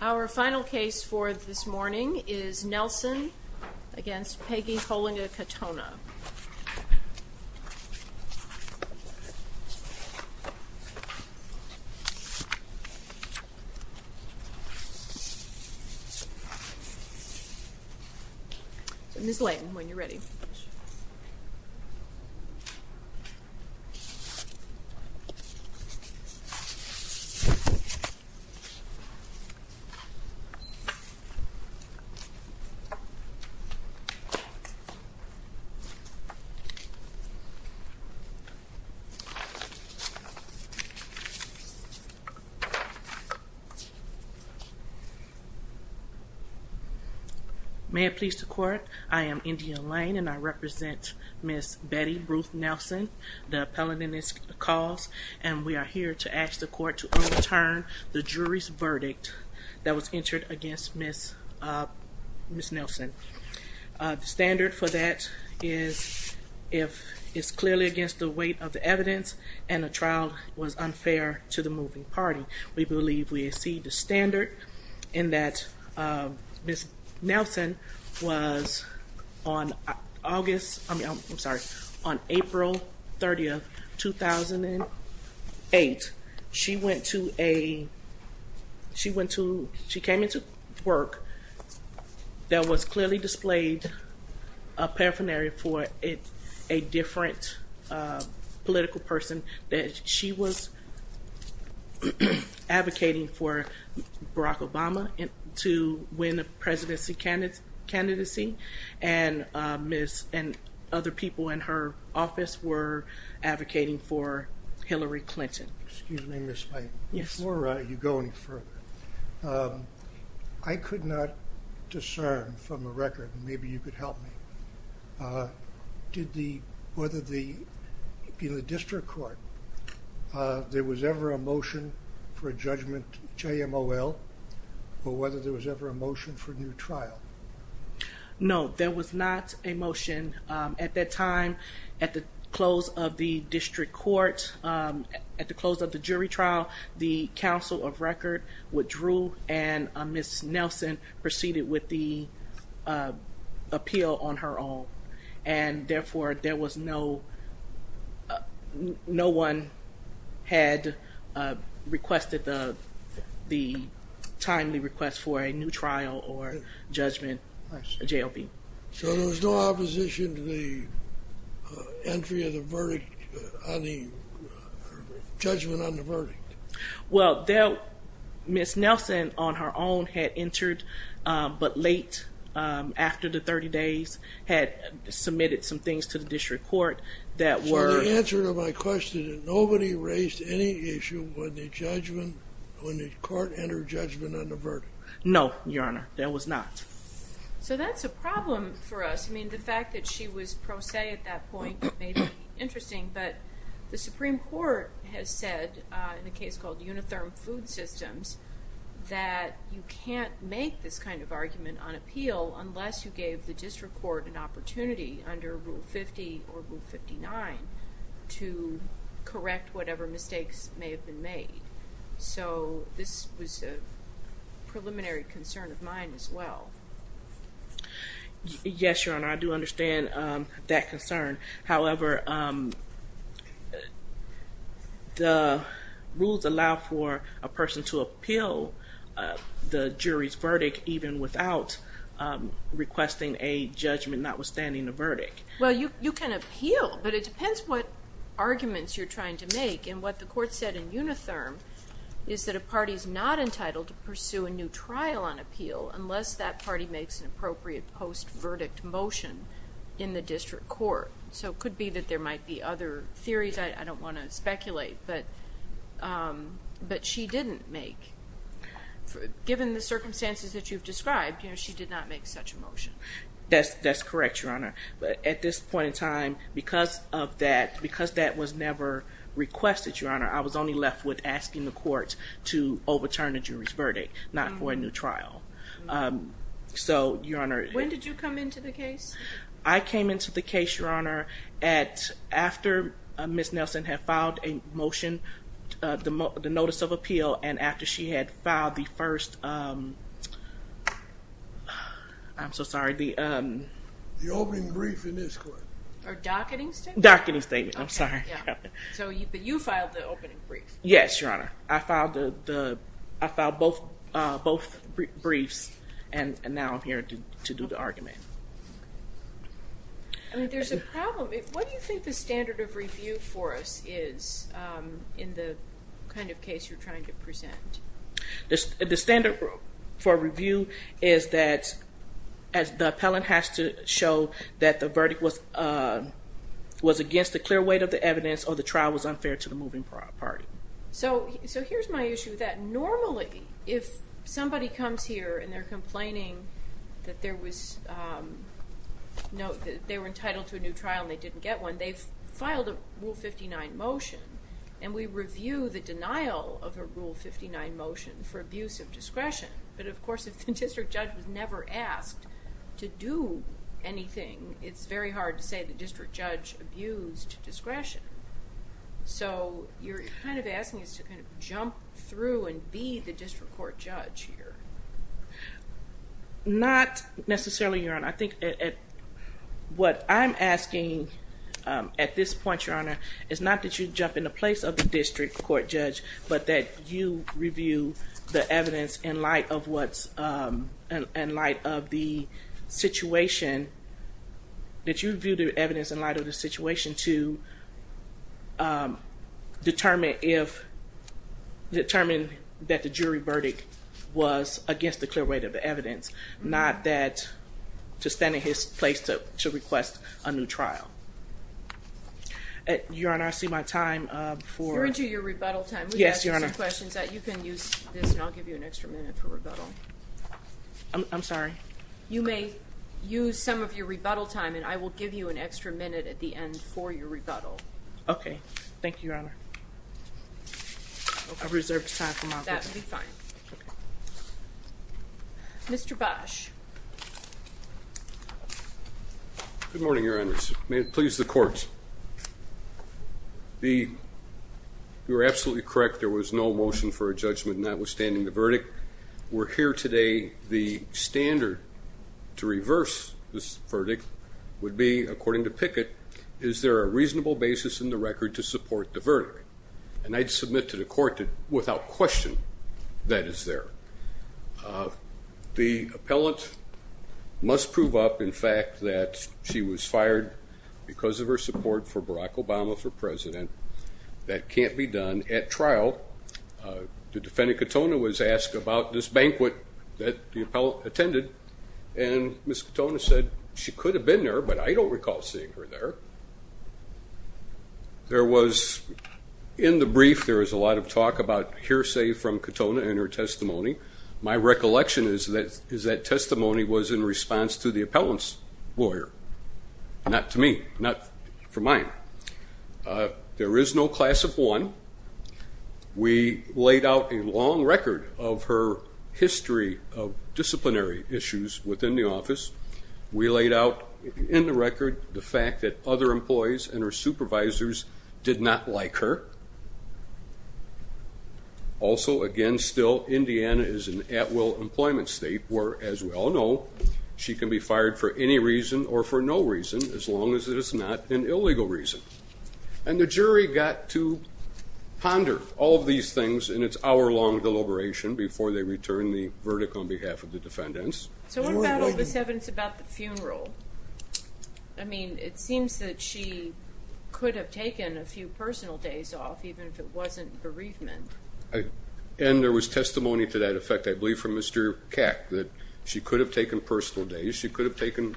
Our final case for this morning is Nelson v. Peggy Holinga-Katona. Ms. Layton, when you're ready. May it please the court, I am India Layton and I represent Ms. Betty Ruth Nelson, the verdict that was entered against Ms. Nelson. The standard for that is if it's clearly against the weight of the evidence and the trial was unfair to the moving party. We believe we exceed the standard in that Ms. Nelson was on August, I'm sorry, on April 30, 2008, she went to a, she went to, she came into work that was clearly displayed a paraphernalia for a different political person that she was advocating for Barack Obama to win a presidency candidacy and other people in her office were advocating for Hillary Clinton. Excuse me Ms. Layton, before you go any further, I could not discern from the record, maybe you could help me, did the, whether the, in the district court, there was ever a motion for a judgment JMOL or whether there was ever a motion for a new trial? No, there was not a motion. At that time, at the close of the district court, at the close of the jury trial, the counsel of record withdrew and Ms. Nelson proceeded with the appeal on her own and therefore there was no, no one had requested the timely request for a new trial or judgment JLP. So there was no opposition to the entry of the verdict on the, judgment on the verdict? Well, there, Ms. Nelson on her own had entered but late, after the 30 days, had submitted some things to the district court that were... So the answer to my question is nobody raised any issue when the judgment, when the court entered judgment on the verdict? No, Your Honor, there was not. So that's a problem for us, I mean the fact that she was pro se at that point may be interesting but the Supreme Court has said in a case called Unitherm Food Systems that you can't make this kind of argument on appeal unless you gave the district court an opportunity under Rule 50 or Rule 59 to correct whatever mistakes may have been made. So this was a preliminary concern of mine as well. Yes, Your Honor, I do understand that concern. However, the rules allow for a person to appeal the jury's verdict even without requesting a judgment notwithstanding the verdict. Well, you can appeal but it depends what arguments you're trying to make and what the court said in Unitherm is that a party's not entitled to pursue a new trial on appeal unless that party makes an appropriate post-verdict motion in the district court. So it could be that there might be other theories, I don't want to speculate, but she didn't make, given the circumstances that you've described, she did not make such a motion. That's correct, Your Honor. But at this point in time, because that was never requested, Your Honor, I was only left with asking the court to overturn the jury's verdict, not for a new trial. So, Your Honor... When did you come into the case? I came into the case, Your Honor, after Ms. Nelson had filed a motion, the notice of appeal, and after she had filed the first... I'm so sorry, the... The opening brief in this court. Or docketing statement? Docketing statement, I'm sorry. So you filed the opening brief? Yes, Your Honor. I filed both briefs, and now I'm here to do the argument. There's a problem. What do you think the standard of review for us is in the kind of case you're trying to present? The standard for review is that the appellant has to show that the verdict was against the clear weight of the evidence or the trial was unfair to the moving party. So here's my issue with that. Normally, if somebody comes here and they're complaining that they were entitled to a new trial and they didn't get one, they've filed a Rule 59 motion, and we review the denial of a Rule 59 motion for abuse of discretion. But, of course, if the district judge was never asked to do anything, it's very hard to say the district judge abused discretion. So you're kind of asking us to kind of jump through and be the district court judge here. Not necessarily, Your Honor. I think what I'm asking at this point, Your Honor, is not that you jump in the place of the district court judge, but that you review the evidence in light of the situation, that you review the evidence in light of the situation to determine if, determine that the jury verdict was against the clear weight of the evidence, not that to stand in his place to request a new trial. Your Honor, I see my time for- You're into your rebuttal time. Yes, Your Honor. We've asked you some questions. You can use this, and I'll give you an extra minute for rebuttal. I'm sorry? You may use some of your rebuttal time, and I will give you an extra minute at the end for your rebuttal. Okay. Thank you, Your Honor. I've reserved time for my rebuttal. That will be fine. Mr. Bosch. Good morning, Your Honors. May it please the court. You were absolutely correct. There was no motion for a judgment notwithstanding the verdict. We're here today. The standard to reverse this verdict would be, according to Pickett, is there a reasonable basis in the record to support the verdict? And I'd submit to the court that without question that is there. The appellant must prove up, in fact, that she was fired because of her support for Barack Obama for president. That can't be done at trial. The defendant, Katona, was asked about this banquet that the appellant attended, and Ms. Katona said she could have been there, but I don't recall seeing her there. There was, in the brief, there was a lot of talk about hearsay from Katona and her testimony. My recollection is that that testimony was in response to the appellant's lawyer, not to me, not for mine. There is no class of one. We laid out a long record of her history of disciplinary issues within the office. We laid out in the record the fact that other employees and her supervisors did not like her. Also, again, still, Indiana is an at-will employment state, where, as we all know, she can be fired for any reason or for no reason, as long as it is not an illegal reason. And the jury got to ponder all of these things in its hour-long deliberation before they returned the verdict on behalf of the defendants. So what about all this evidence about the funeral? I mean, it seems that she could have taken a few personal days off, even if it wasn't bereavement. And there was testimony to that effect, I believe, from Mr. Cack, that she could have taken personal days. She could have taken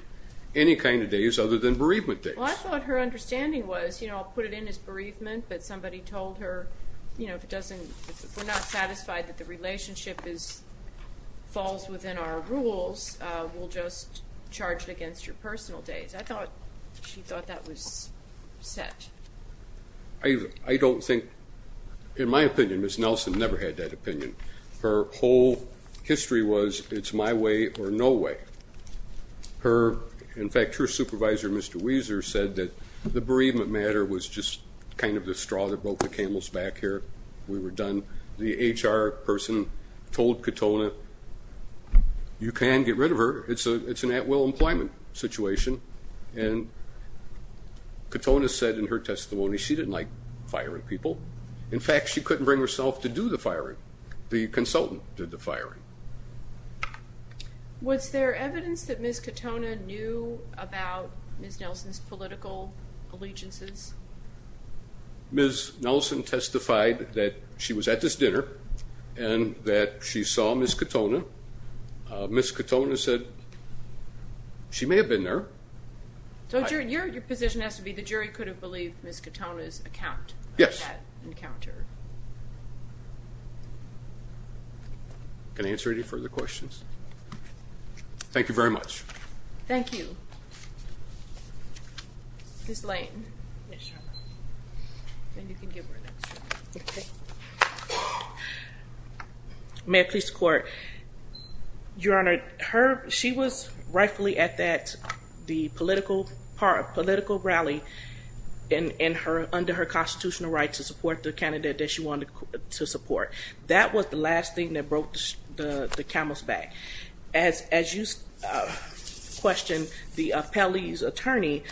any kind of days other than bereavement days. Well, I thought her understanding was, you know, I'll put it in as bereavement, but somebody told her, you know, if we're not satisfied that the relationship falls within our rules, we'll just charge it against your personal days. I thought she thought that was set. I don't think, in my opinion, Ms. Nelson never had that opinion. Her whole history was it's my way or no way. In fact, her supervisor, Mr. Weiser, said that the bereavement matter was just kind of the straw that broke the camel's back here. We were done. The HR person told Katona, you can get rid of her. It's an at-will employment situation. And Katona said in her testimony she didn't like firing people. In fact, she couldn't bring herself to do the firing. The consultant did the firing. Was there evidence that Ms. Katona knew about Ms. Nelson's political allegiances? Ms. Nelson testified that she was at this dinner and that she saw Ms. Katona. Ms. Katona said she may have been there. So your position has to be the jury could have believed Ms. Katona's account. Yes. Can I answer any further questions? Thank you very much. Thank you. Ms. Lane. And you can give her that. Okay. May I please report? Your Honor, she was rightfully at the political rally under her constitutional right to support the candidate that she wanted to support. That was the last thing that broke the camel's back. As you questioned the appellee's attorney,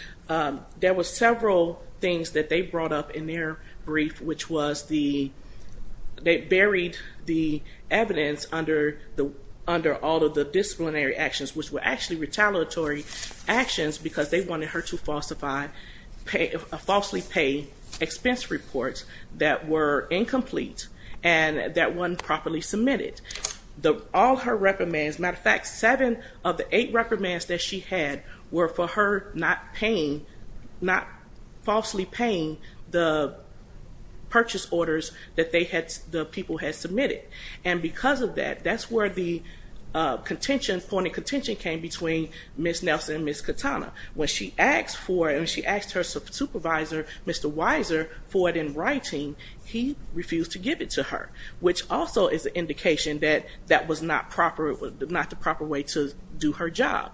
there were several things that they brought up in their brief, which was they buried the evidence under all of the disciplinary actions, which were actually retaliatory actions because they wanted her to falsify, falsely pay expense reports that were incomplete and that weren't properly submitted. All her reprimands, as a matter of fact, seven of the eight reprimands that she had were for her not paying, not falsely paying the purchase orders that the people had submitted. And because of that, that's where the point of contention came between Ms. Nelson and Ms. Katona. When she asked her supervisor, Mr. Weiser, for it in writing, he refused to give it to her, which also is an indication that that was not the proper way to do her job.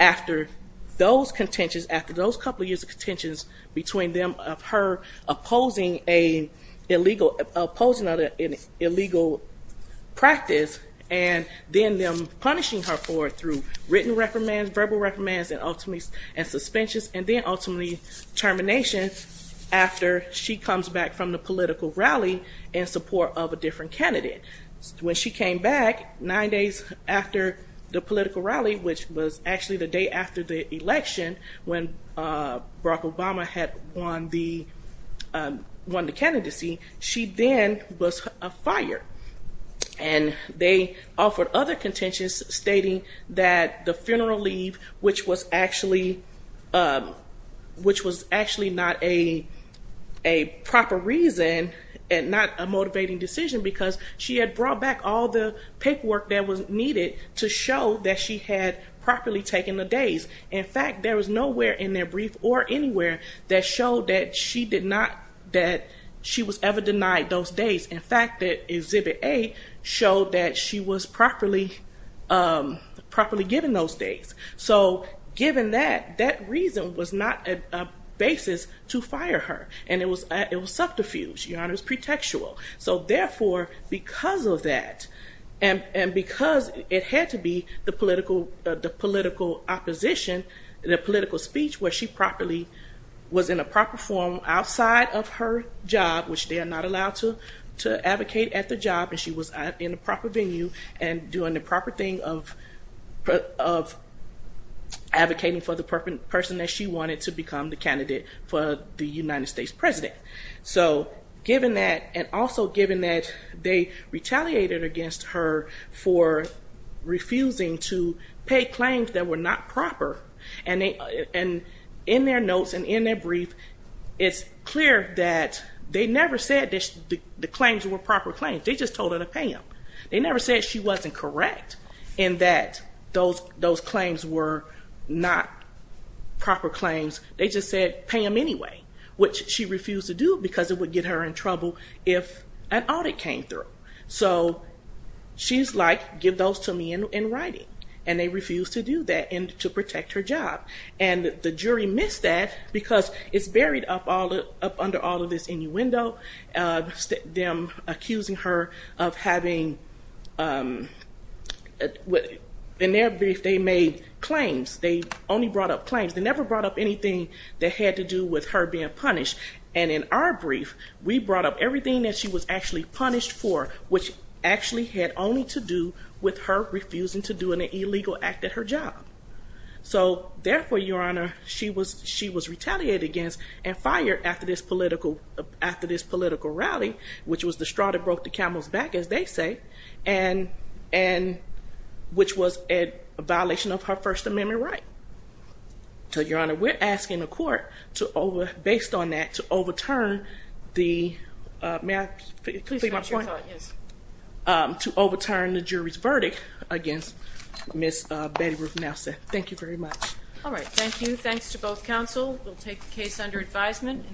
After those couple of years of contentions between her opposing an illegal practice and then them punishing her for it through written reprimands, verbal reprimands, and ultimately suspensions, and then ultimately termination after she comes back from the political rally in support of a different candidate. When she came back, nine days after the political rally, which was actually the day after the election when Barack Obama had won the candidacy, she then was fired. And they offered other contentions stating that the funeral leave, which was actually not a proper reason and not a motivating decision because she had brought back all the paperwork that was needed to show that she had properly taken the days. In fact, there was nowhere in their brief or anywhere that showed that she was ever denied those days. In fact, Exhibit A showed that she was properly given those days. So given that, that reason was not a basis to fire her. And it was subterfuge. It was pretextual. So therefore, because of that, and because it had to be the political opposition, the political speech where she properly was in a proper form outside of her job, which they are not allowed to advocate at the job, and she was in a proper venue and doing the proper thing of advocating for the person that she wanted to become the candidate for the United States president. So given that, and also given that they retaliated against her for refusing to pay claims that were not proper, and in their notes and in their brief, it's clear that they never said the claims were proper claims. They just told her to pay them. They never said she wasn't correct in that those claims were not proper claims. They just said pay them anyway, which she refused to do because it would get her in trouble if an audit came through. So she's like, give those to me in writing. And they refused to do that and to protect her job. And the jury missed that because it's buried up under all of this innuendo, them accusing her of having, in their brief, they made claims. They only brought up claims. They never brought up anything that had to do with her being punished. And in our brief, we brought up everything that she was actually punished for, which actually had only to do with her refusing to do an illegal act at her job. So therefore, Your Honor, she was retaliated against and fired after this political rally, which was the straw that broke the camel's back, as they say, and which was a violation of her First Amendment right. So, Your Honor, we're asking the court, based on that, to overturn the jury's verdict against Ms. Betty Ruth Nelson. Thank you very much. All right. Thank you. Thanks to both counsel. We'll take the case under advisement.